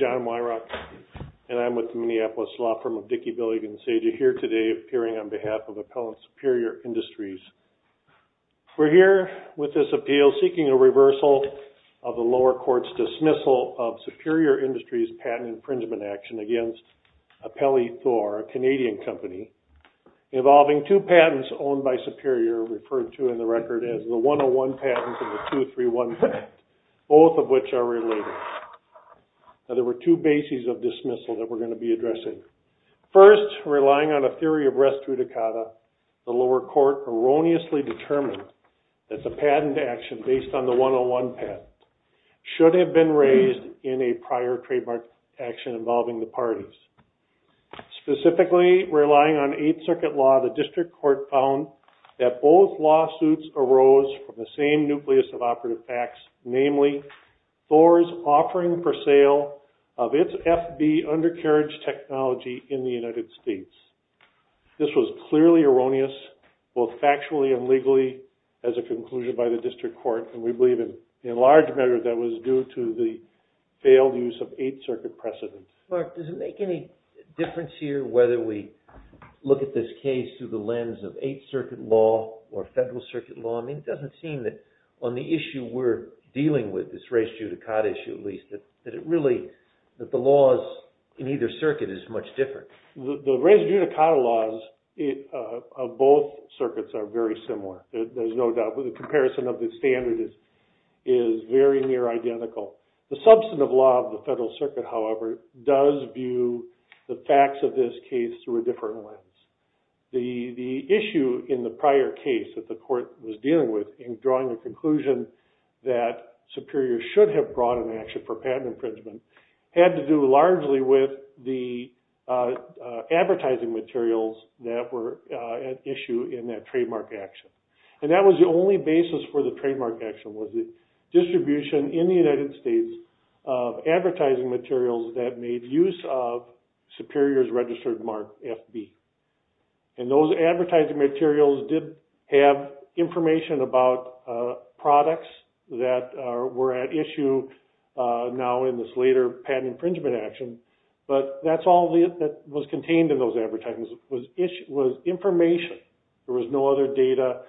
JOHN WYROCK, MINNEAPOLIS LAW FIRM, DICKIE BILLIG & SAGE The 101 patent and the 231 patent, both of which are related. There were two bases of dismissal that we're going to be addressing. First, relying on a theory of res judicata, the lower court erroneously determined that the patent action based on the 101 patent should have been raised in a prior trademark action involving the parties. Specifically, relying on 8th Circuit law, the district court found that both lawsuits arose from the same nucleus of operative facts, namely, Thor's offering for sale of its FB undercarriage technology in the United States. This was clearly erroneous, both factually and legally, as a conclusion by the district court, and we believe in large measure that was due to the failed use of 8th Circuit precedent. Mark, does it make any difference here whether we look at this case through the lens of 8th Circuit law or Federal Circuit law? I mean, it doesn't seem that on the issue we're dealing with, this res judicata issue at least, that it really, that the laws in either circuit is much different. The res judicata laws of both circuits are very similar, there's no doubt. The comparison of the standard is very near identical. The substantive law of the Federal Circuit, however, does view the facts of this case through a different lens. The issue in the prior case that the court was dealing with in drawing a conclusion that Superior should have brought an action for patent infringement had to do largely with the advertising materials that were at issue in that trademark action. And that was the only basis for the trademark action, was the distribution in the United States of advertising materials that made use of Superior's registered mark FB. And those advertising materials did have information about products that were at issue now in this later patent infringement action, but that's all that was contained in those advertisements, was information. There was no other data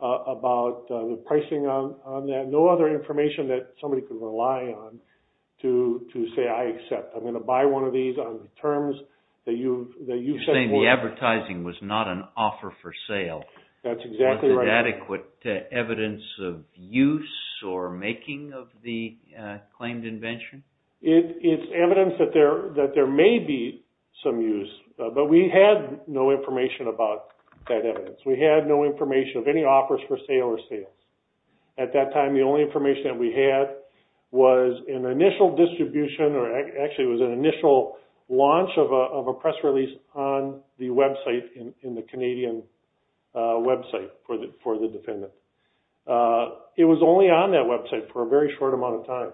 about the pricing on that, no other information that somebody could rely on to say, I accept. I'm going to buy one of these on the terms that you've set forth. You're saying the advertising was not an offer for sale. That's exactly right. Was it adequate evidence of use or making of the claimed invention? It's evidence that there may be some use, but we had no information about that evidence. We had no information of any offers for sale or sales. At that time, the only information that we had was an initial distribution, or actually it was an initial launch of a press release on the website in the Canadian website for the defendant. It was only on that website for a very short amount of time.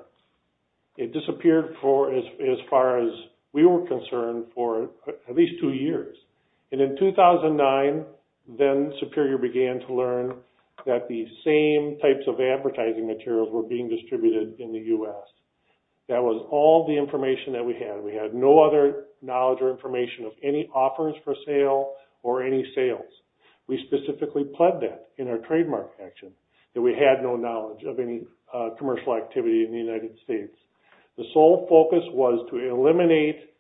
It disappeared as far as we were concerned for at least two years. And in 2009, then Superior began to learn that the same types of advertising materials were being distributed in the U.S. That was all the information that we had. We had no other knowledge or information of any offers for sale or any sales. We specifically pled that in our trademark action, that we had no knowledge of any commercial activity in the United States. The sole focus was to eliminate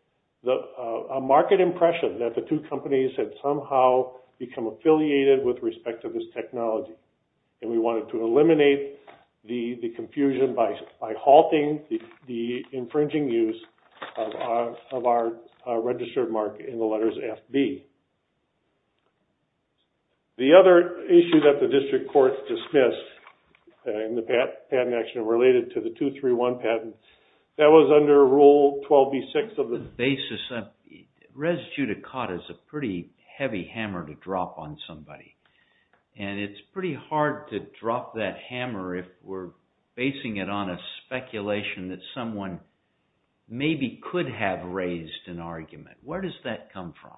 a market impression that the two companies had somehow become affiliated with respect to this technology. And we wanted to eliminate the confusion by halting the infringing use of our registered mark in the letters FB. The other issue that the district courts dismissed in the patent action related to the 231 patent, that was under Rule 12b-6 of the... The basis of res judicata is a pretty heavy hammer to drop on somebody. And it's pretty hard to drop that hammer if we're basing it on a speculation that someone maybe could have raised an argument. Where does that come from?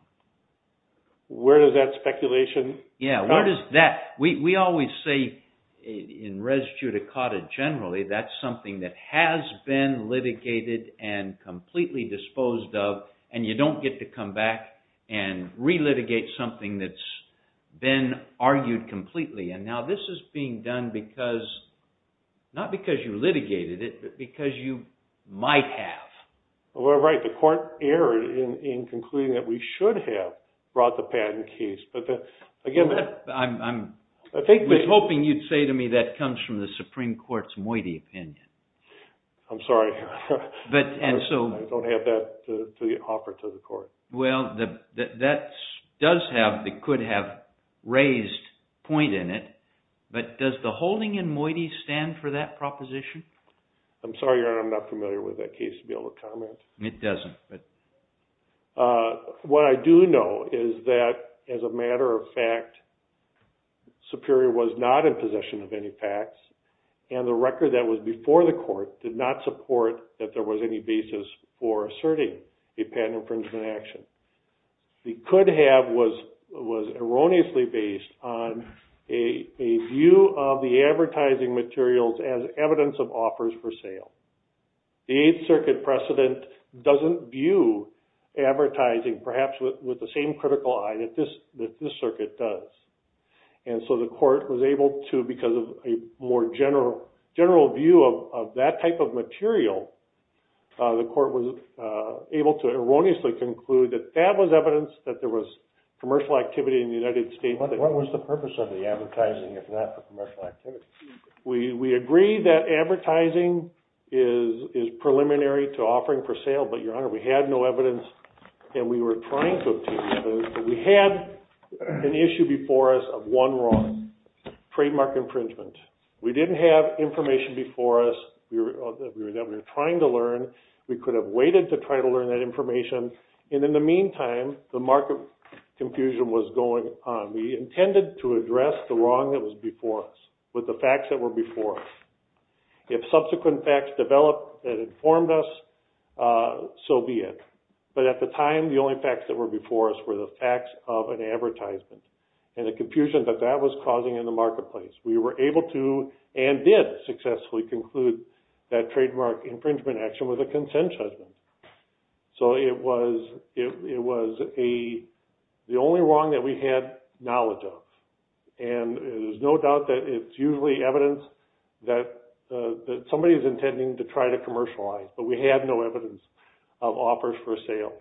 Where does that speculation... Yeah, where does that... We always say in res judicata generally, that's something that has been litigated and completely disposed of, and you don't get to come back and re-litigate something that's been argued completely. And now this is being done because... Not because you litigated it, but because you might have. Well, you're right. The court erred in concluding that we should have brought the patent case. I was hoping you'd say to me that comes from the Supreme Court's moiety opinion. I'm sorry, Your Honor. I don't have that to offer to the court. Well, that does have... It could have raised point in it, but does the holding in moiety stand for that proposition? I'm sorry, Your Honor. I'm not familiar with that case to be able to comment. It doesn't, but... What I do know is that, as a matter of fact, Superior was not in possession of any facts, and the record that was before the court did not support that there was any basis for asserting a patent infringement action. The could have was erroneously based on a view of the advertising materials as evidence of offers for sale. The Eighth Circuit precedent doesn't view advertising perhaps with the same critical eye that this circuit does. And so the court was able to, because of a more general view of that type of material, the court was able to erroneously conclude that that was evidence that there was commercial activity in the United States. What was the purpose of the advertising, if not for commercial activity? We agree that advertising is preliminary to offering for sale, but, Your Honor, we had no evidence, and we were trying to... We had an issue before us of one wrong, trademark infringement. We didn't have information before us that we were trying to learn. We could have waited to try to learn that information. And in the meantime, the market confusion was going on. We intended to address the wrong that was before us with the facts that were before us. If subsequent facts developed that informed us, so be it. But at the time, the only facts that were before us were the facts of an advertisement and the confusion that that was causing in the marketplace. We were able to and did successfully conclude that trademark infringement action was a consent judgment. So it was the only wrong that we had knowledge of. And there's no doubt that it's usually evidence that somebody is intending to try to commercialize, but we had no evidence of offers for sale.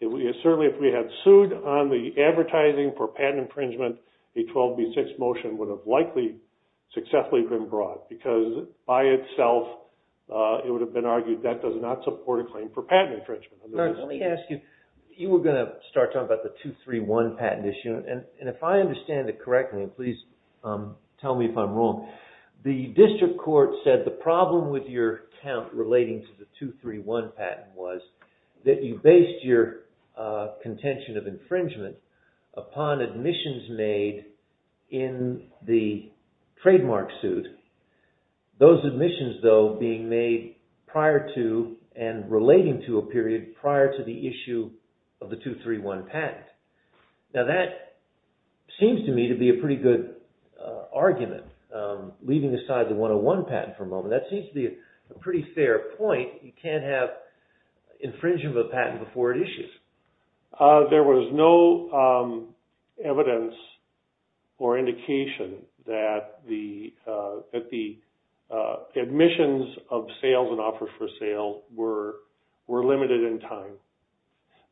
Certainly, if we had sued on the advertising for patent infringement, a 12B6 motion would have likely successfully been brought because, by itself, it would have been argued that does not support a claim for patent infringement. Let me ask you, you were going to start talking about the 231 patent issue, and if I understand it correctly, and please tell me if I'm wrong, the district court said the problem with your count relating to the 231 patent was that you based your contention of infringement upon admissions made in the trademark suit. Those admissions, though, being made prior to and relating to a period prior to the issue of the 231 patent. Now, that seems to me to be a pretty good argument. Leaving aside the 101 patent for a moment, that seems to be a pretty fair point. You can't have infringement of a patent before it issues. There was no evidence or indication that the admissions of sales and offers for sale were limited in time.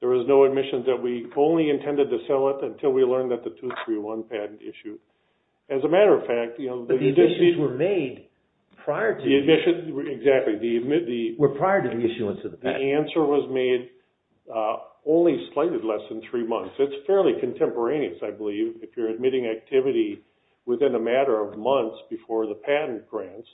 There was no admission that we only intended to sell it until we learned that the 231 patent issued. As a matter of fact, you know, the district... But the admissions were made prior to... The admissions, exactly, the... Were prior to the issuance of the patent. The answer was made only slightly less than three months. It's fairly contemporaneous, I believe, if you're admitting activity within a matter of months before the patent grants.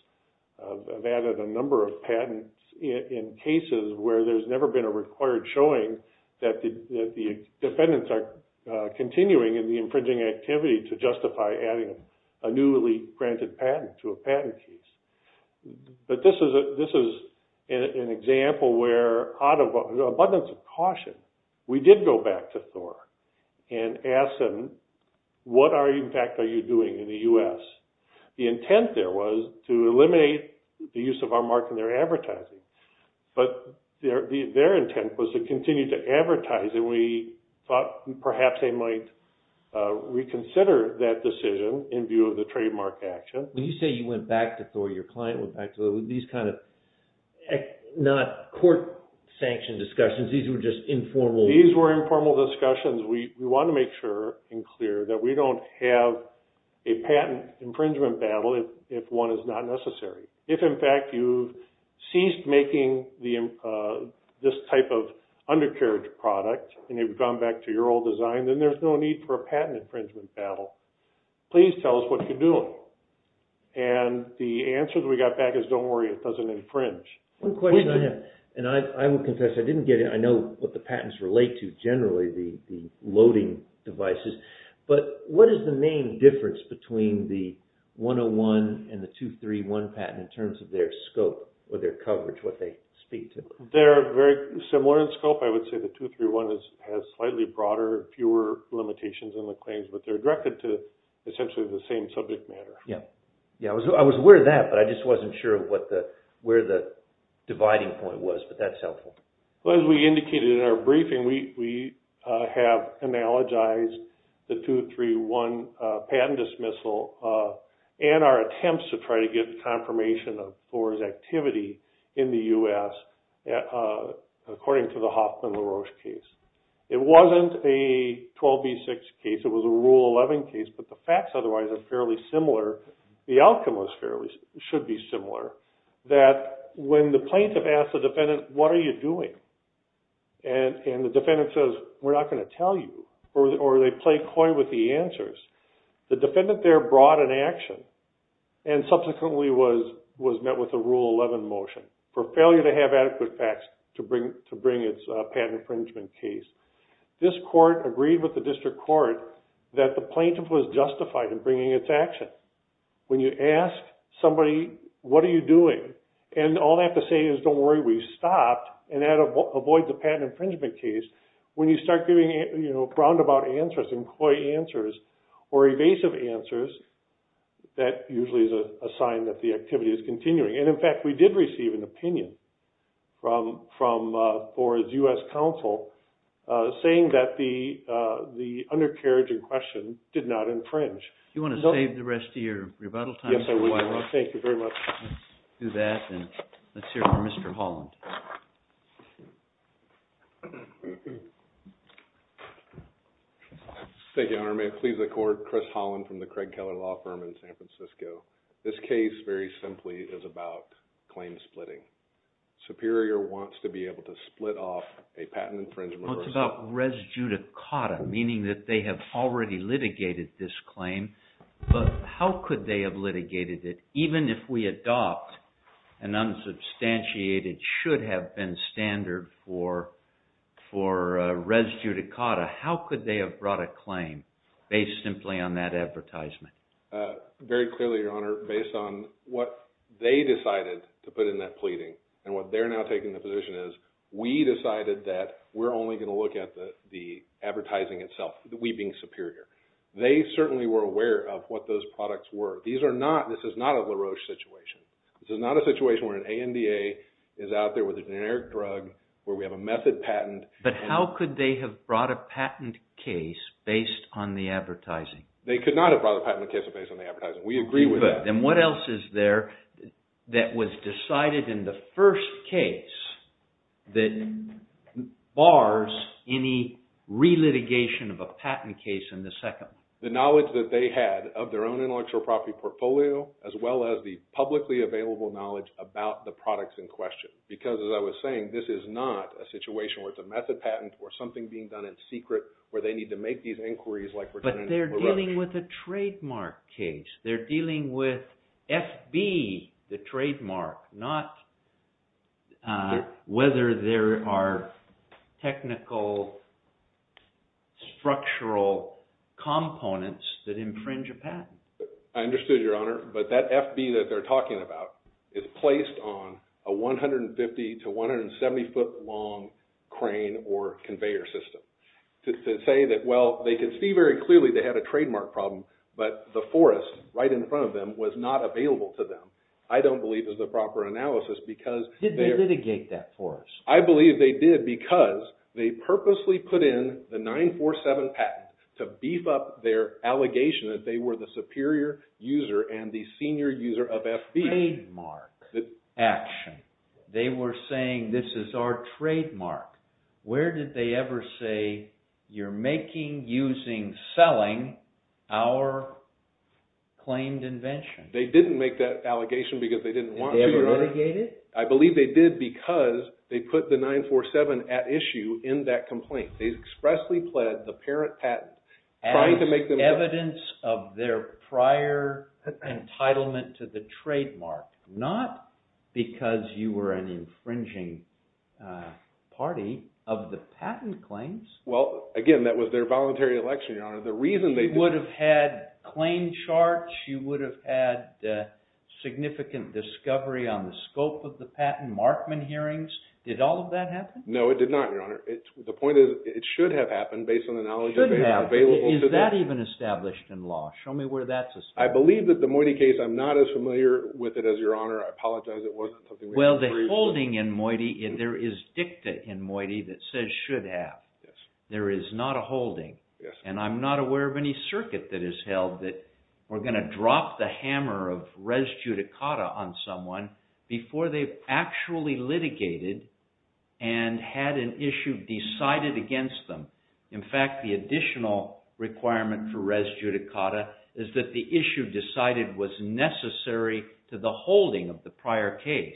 I've added a number of patents in cases where there's never been a required showing that the defendants are continuing in the infringing activity to justify adding a newly granted patent to a patent case. But this is an example where out of abundance of caution, we did go back to Thor and ask him, what are you... In fact, are you doing in the U.S.? The intent there was to eliminate the use of our mark in their advertising. But their intent was to continue to advertise, and we thought perhaps they might reconsider that decision in view of the trademark action. When you say you went back to Thor, your client went back to Thor, were these kind of not court-sanctioned discussions? These were just informal... These were informal discussions. We want to make sure and clear that we don't have a patent infringement battle if one is not necessary. If, in fact, you ceased making this type of undercarriage product and you've gone back to your old design, then there's no need for a patent infringement battle. Please tell us what you're doing. And the answer that we got back is don't worry, it doesn't infringe. One question I have, and I will confess, I know what the patents relate to generally, the loading devices, but what is the main difference between the 101 and the 231 patent in terms of their scope or their coverage, what they speak to? They're very similar in scope. I would say the 231 has slightly broader, fewer limitations on the claims, but they're directed to essentially the same subject matter. I was aware of that, but I just wasn't sure of where the dividing point was, but that's helpful. As we indicated in our briefing, we have analogized the 231 patent dismissal and our attempts to try to get confirmation of Thor's activity in the U.S. according to the Hoffman-LaRoche case. It wasn't a 12B6 case, it was a Rule 11 case, but the facts otherwise are fairly similar. The outcome should be similar, that when the plaintiff asks the defendant, what are you doing? And the defendant says, we're not going to tell you, or they play coy with the answers. The defendant there brought an action and subsequently was met with a Rule 11 motion for failure to have adequate facts to bring its patent infringement case. This court agreed with the district court that the plaintiff was justified in bringing its action. When you ask somebody, what are you doing? And all they have to say is, don't worry, we stopped, and that avoids a patent infringement case. When you start giving roundabout answers and coy answers or evasive answers, that usually is a sign that the activity is continuing. And, in fact, we did receive an opinion from Thor's U.S. counsel saying that the undercarriage in question did not infringe. Do you want to save the rest of your rebuttal time? Yes, I would. Thank you very much. Let's do that, and let's hear from Mr. Holland. Thank you, Your Honor. May it please the court, Chris Holland from the Craig Keller Law Firm in San Francisco. This case, very simply, is about claim splitting. Superior wants to be able to split off a patent infringement. Well, it's about res judicata, meaning that they have already litigated this claim, but how could they have litigated it? Even if we adopt an unsubstantiated, should-have-been standard for res judicata, how could they have brought a claim based simply on that advertisement? Very clearly, Your Honor, based on what they decided to put in that pleading and what they're now taking the position is, we decided that we're only going to look at the advertising itself, we being superior. They certainly were aware of what those products were. This is not a LaRoche situation. This is not a situation where an ANDA is out there with a generic drug, where we have a method patent. But how could they have brought a patent case based on the advertising? They could not have brought a patent case based on the advertising. We agree with that. Then what else is there that was decided in the first case that bars any re-litigation of a patent case in the second? The knowledge that they had of their own intellectual property portfolio, as well as the publicly available knowledge about the products in question. Because, as I was saying, this is not a situation where it's a method patent or something being done in secret, where they need to make these inquiries like we're doing in LaRoche. But they're dealing with a trademark case. They're dealing with FB, the trademark, not whether there are technical structural components that infringe a patent. I understood, Your Honor, but that FB that they're talking about is placed on a 150 to 170 foot long crane or conveyor system. To say that, well, they could see very clearly they had a trademark problem, but the forest right in front of them was not available to them. I don't believe it was the proper analysis because... Did they litigate that forest? I believe they did because they purposely put in the 947 patent to beef up their allegation that they were the superior user and the senior user of FB. It was a trademark action. They were saying, this is our trademark. Where did they ever say, you're making, using, selling our claimed invention? They didn't make that allegation because they didn't want to, Your Honor. Did they ever litigate it? I believe they did because they put the 947 at issue in that complaint. They expressly pled the parent patent trying to make them... As evidence of their prior entitlement to the trademark, not because you were an infringing party of the patent claims. Well, again, that was their voluntary election, Your Honor. The reason they... You would have had claim charts. You would have had significant discovery on the scope of the patent, Markman hearings. Did all of that happen? No, it did not, Your Honor. The point is, it should have happened based on the knowledge that they had available to them. Is that even established in law? Show me where that's established. I believe that the Moiti case, I'm not as familiar with it as Your Honor. I apologize. It wasn't something... Well, the holding in Moiti, there is dicta in Moiti that says should have. There is not a holding. And I'm not aware of any circuit that is held that we're going to drop the hammer of res judicata on someone before they've actually litigated and had an issue decided against them. In fact, the additional requirement for res judicata is that the issue decided was necessary to the holding of the prior case.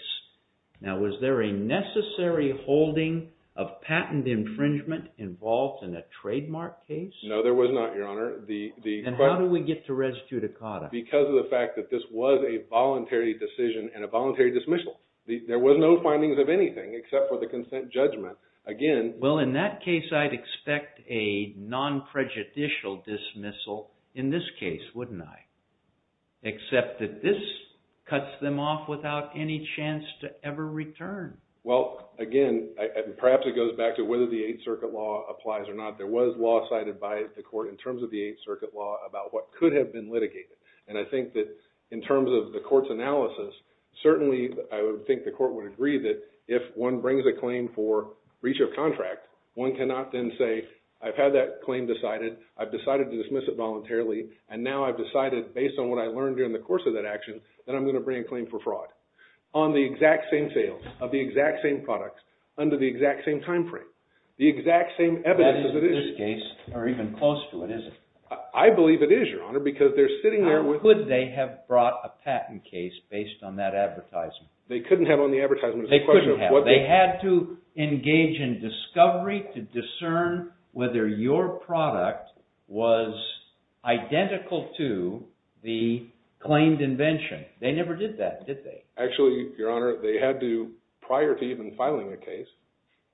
Now, was there a necessary holding of patent infringement involved in a trademark case? No, there was not, Your Honor. And how do we get to res judicata? Because of the fact that this was a voluntary decision and a voluntary dismissal. There were no findings of anything except for the consent judgment. Again... Well, in that case, I'd expect a non-prejudicial dismissal in this case, wouldn't I? Except that this cuts them off without any chance to ever return. Well, again, perhaps it goes back to whether the Eighth Circuit law applies or not. There was law cited by the court in terms of the Eighth Circuit law about what could have been litigated. And I think that in terms of the court's analysis, certainly I would think the court would agree that if one brings a claim for breach of contract, one cannot then say, I've had that claim decided, I've decided to dismiss it voluntarily, and now I've decided, based on what I learned during the course of that action, that I'm going to bring a claim for fraud. On the exact same sales of the exact same products under the exact same timeframe, the exact same evidence as it is. That is, in this case, or even close to it, isn't it? I believe it is, Your Honor, because they're sitting there with... How could they have brought a patent case based on that advertisement? They couldn't have on the advertisement. They couldn't have. They had to engage in discovery to discern whether your product was identical to the claimed invention. They never did that, did they? Actually, Your Honor, they had to, prior to even filing a case,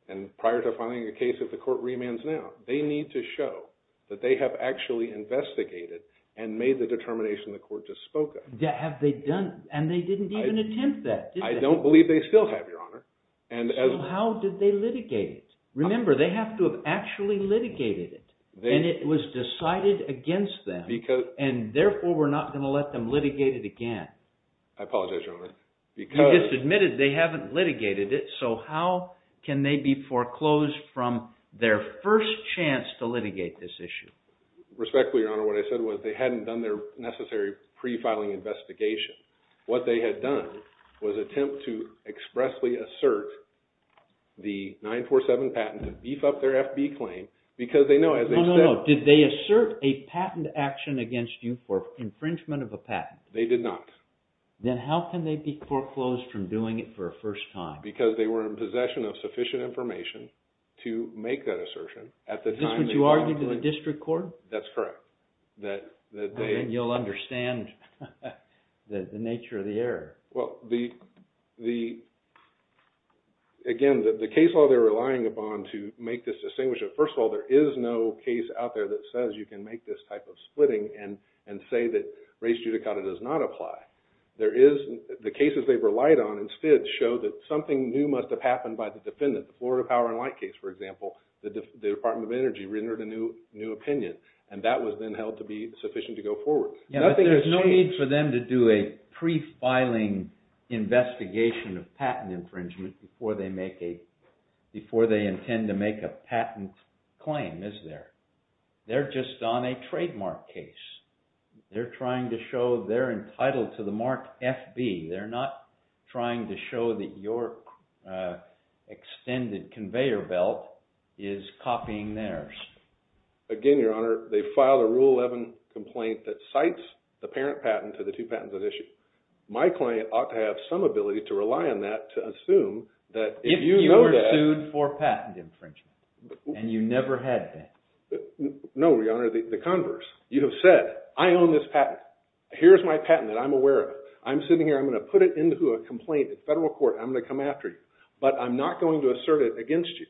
and prior to filing a case if the court remands now, they need to show that they have actually investigated and made the determination the court just spoke of. Have they done? And they didn't even attempt that, did they? I don't believe they still have, Your Honor. So how did they litigate it? Remember, they have to have actually litigated it, and it was decided against them, and therefore we're not going to let them litigate it again. I apologize, Your Honor, because... You just admitted they haven't litigated it, so how can they be foreclosed from their first chance to litigate this issue? Respectfully, Your Honor, what I said was they hadn't done their necessary pre-filing investigation. What they had done was attempt to expressly assert the 947 patent to beef up their FB claim because they know, as they said... No, no, no. Did they assert a patent action against you for infringement of a patent? They did not. Then how can they be foreclosed from doing it for a first time? Because they were in possession of sufficient information to make that assertion at the time... Is this what you argued to the district court? That's correct. Then you'll understand the nature of the error. Well, again, the case law they're relying upon to make this distinguished... First of all, there is no case out there that says you can make this type of splitting and say that res judicata does not apply. The cases they've relied on instead show that something new must have happened by the defendant. The Florida Power and Light case, for example, the Department of Energy rendered a new opinion, and that was then held to be sufficient to go forward. There's no need for them to do a pre-filing investigation of patent infringement before they intend to make a patent claim, is there? They're just on a trademark case. They're entitled to the mark FB. They're not trying to show that your extended conveyor belt is copying theirs. Again, Your Honor, they filed a Rule 11 complaint that cites the parent patent to the two patents at issue. My client ought to have some ability to rely on that to assume that if you know that... If you were sued for patent infringement and you never had a patent. No, Your Honor, the converse. You have said, I own this patent. Here's my patent that I'm aware of. I'm sitting here. I'm going to put it into a complaint at federal court. I'm going to come after you. But I'm not going to assert it against you.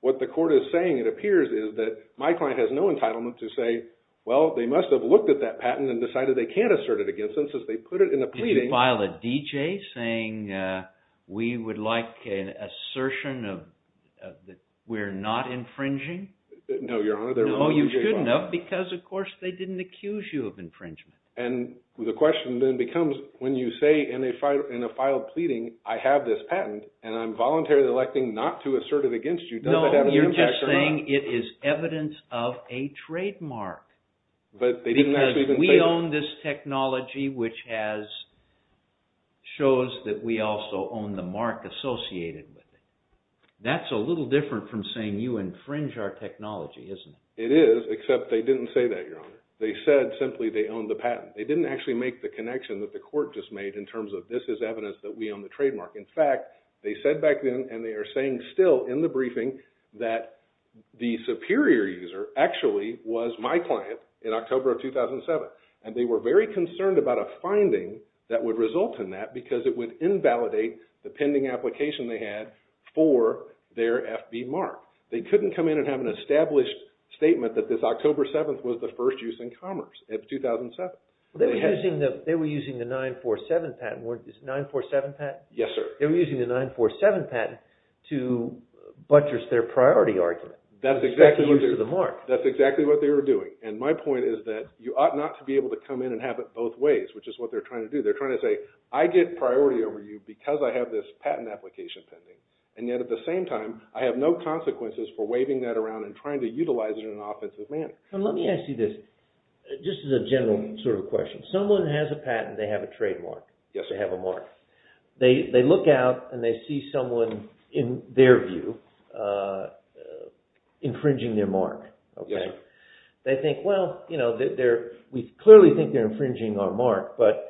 What the court is saying, it appears, is that my client has no entitlement to say, well, they must have looked at that patent and decided they can't assert it against them. So they put it in a pleading. Did you file a D.J. saying we would like an assertion that we're not infringing? No, Your Honor, there were no D.J. files. No, you shouldn't have because, of course, they didn't accuse you of infringement. And the question then becomes, when you say in a filed pleading, I have this patent and I'm voluntarily electing not to assert it against you, does that have an impact or not? No, you're just saying it is evidence of a trademark because we own this technology which shows that we also own the mark associated with it. That's a little different from saying you infringe our technology, isn't it? It is, except they didn't say that, Your Honor. They said simply they own the patent. They didn't actually make the connection that the court just made in terms of this is evidence that we own the trademark. In fact, they said back then, and they are saying still in the briefing, that the superior user actually was my client in October of 2007. And they were very concerned about a finding that would result in that because it would invalidate the pending application they had for their FB mark. They couldn't come in and have an established statement that this October 7th was the first use in commerce of 2007. They were using the 947 patent to buttress their priority argument. That's exactly what they were doing. And my point is that you ought not to be able to come in and have it both ways, which is what they're trying to do. They're trying to say, I get priority over you because I have this patent application pending. And yet at the same time, I have no consequences for waving that around and trying to utilize it in an offensive manner. Let me ask you this, just as a general sort of question. Someone has a patent, they have a trademark. Yes, sir. They have a mark. They look out and they see someone, in their view, infringing their mark. Yes, sir. They think, well, we clearly think they're infringing our mark, but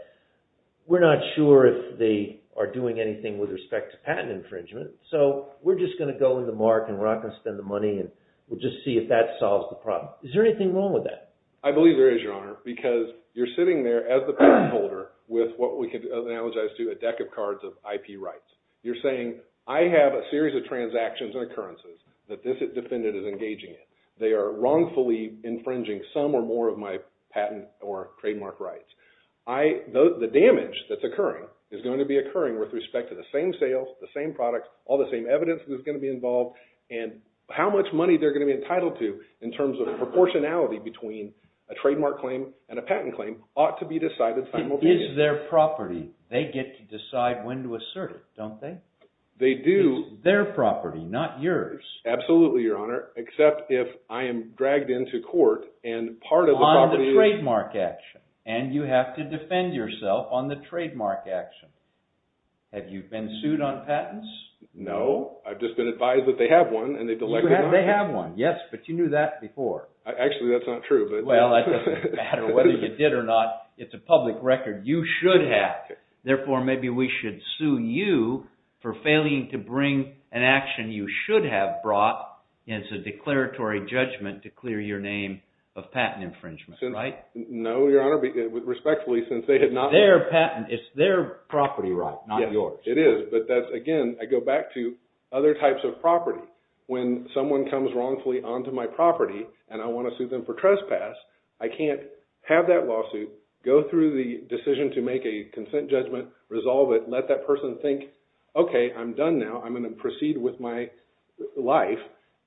we're not sure if they are doing anything with respect to patent infringement. So we're just going to go with the mark and we're not going to spend the money and we'll just see if that solves the problem. Is there anything wrong with that? I believe there is, Your Honor, because you're sitting there as the patent holder with what we can analogize to a deck of cards of IP rights. You're saying, I have a series of transactions and occurrences that this defendant is engaging in. They are wrongfully infringing some or more of my patent or trademark rights. The damage that's occurring is going to be occurring with respect to the same sales, the same products, all the same evidence that's going to be involved, and how much money they're going to be entitled to in terms of proportionality between a trademark claim and a patent claim ought to be decided simultaneously. It is their property. They get to decide when to assert it, don't they? They do. It's their property, not yours. Absolutely, Your Honor, except if I am dragged into court and part of the property is... On the trademark action. And you have to defend yourself on the trademark action. Have you been sued on patents? No. I've just been advised that they have one and they've elected on it. They have one, yes, but you knew that before. Actually, that's not true, but... Well, it doesn't matter whether you did or not. It's a public record. You should have. Therefore, maybe we should sue you for failing to bring an action you should have brought as a declaratory judgment to clear your name of patent infringement, right? No, Your Honor, respectfully, since they had not... It's their property right, not yours. It is, but that's, again, I go back to other types of property. When someone comes wrongfully onto my property and I want to sue them for trespass, I can't have that lawsuit, go through the decision to make a consent judgment, resolve it, let that person think, okay, I'm done now, I'm going to proceed with my life,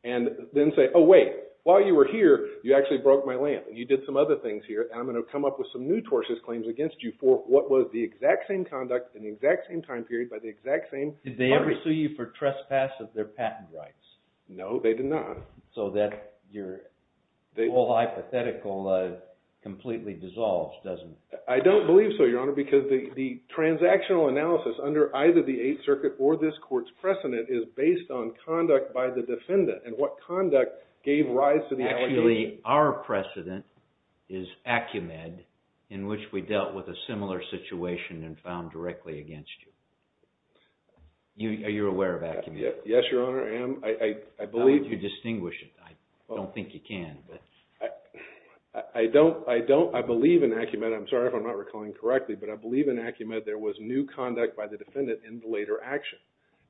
and then say, oh, wait, while you were here, you actually broke my lamp. You did some other things here. I'm going to come up with some new tortious claims against you for what was the exact same conduct in the exact same time period by the exact same party. Did they ever sue you for trespass of their patent rights? No, they did not. So that whole hypothetical completely dissolves, doesn't it? I don't believe so, Your Honor, because the transactional analysis under either the Eighth Circuit or this court's precedent is based on conduct by the defendant and what conduct gave rise to the allegation. Actually, our precedent is Acumed in which we dealt with a similar situation and found directly against you. Are you aware of Acumed? Yes, Your Honor, I am. How would you distinguish it? I don't think you can. I don't. I believe in Acumed. I'm sorry if I'm not recalling correctly, but I believe in Acumed there was new conduct by the defendant in the later action.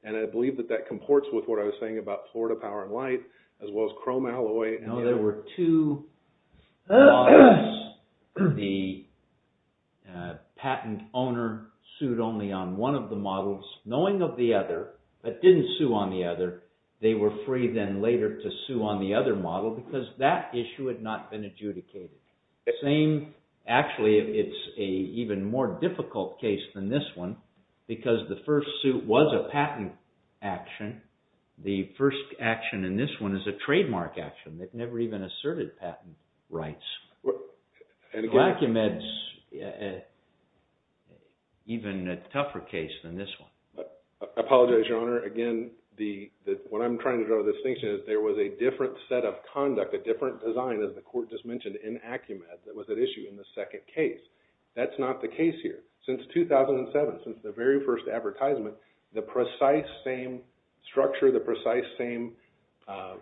And I believe that that comports with what I was saying about Florida Power and Light as well as Chrome Alloy. No, there were two models. The patent owner sued only on one of the models, knowing of the other, but didn't sue on the other. They were free then later to sue on the other model because that issue had not been adjudicated. Actually, it's an even more difficult case than this one because the first suit was a patent action. The first action in this one is a trademark action that never even asserted patent rights. Acumed's even a tougher case than this one. I apologize, Your Honor. Again, what I'm trying to draw the distinction is there was a different set of conduct, a different design, as the court just mentioned, in Acumed that was at issue in the second case. That's not the case here. Since 2007, since the very first advertisement, the precise same structure, the precise same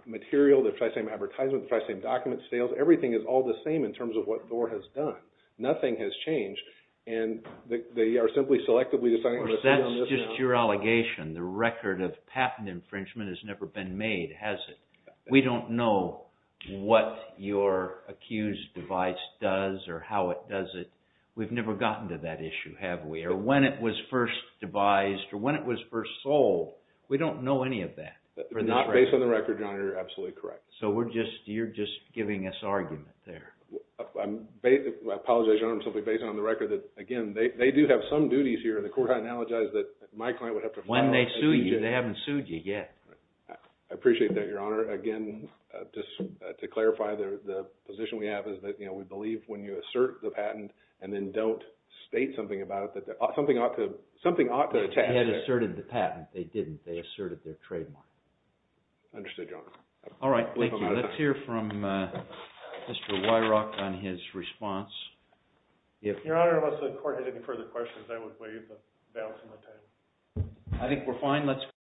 material, the precise same advertisement, the precise same document sales, everything is all the same in terms of what Thor has done. Nothing has changed, and they are simply selectively deciding to sue on this model. That's just your allegation. The record of patent infringement has never been made, has it? We don't know what your accused device does or how it does it. We've never gotten to that issue, have we, or when it was first devised or when it was first sold. We don't know any of that. Based on the record, Your Honor, you're absolutely correct. So you're just giving us argument there. I apologize, Your Honor. I'm simply basing it on the record that, again, they do have some duties here in the court. I apologize that my client would have to follow up. When they sue you, they haven't sued you yet. I appreciate that, Your Honor. Again, just to clarify, the position we have is that we believe when you assert the patent and then don't state something about it, that something ought to attach. If they had asserted the patent, they didn't. They asserted their trademark. Understood, Your Honor. All right. Thank you. Let's hear from Mr. Weirach on his response. Your Honor, unless the court has any further questions, I would waive the balance of my time. I think we're fine. Let's go ahead.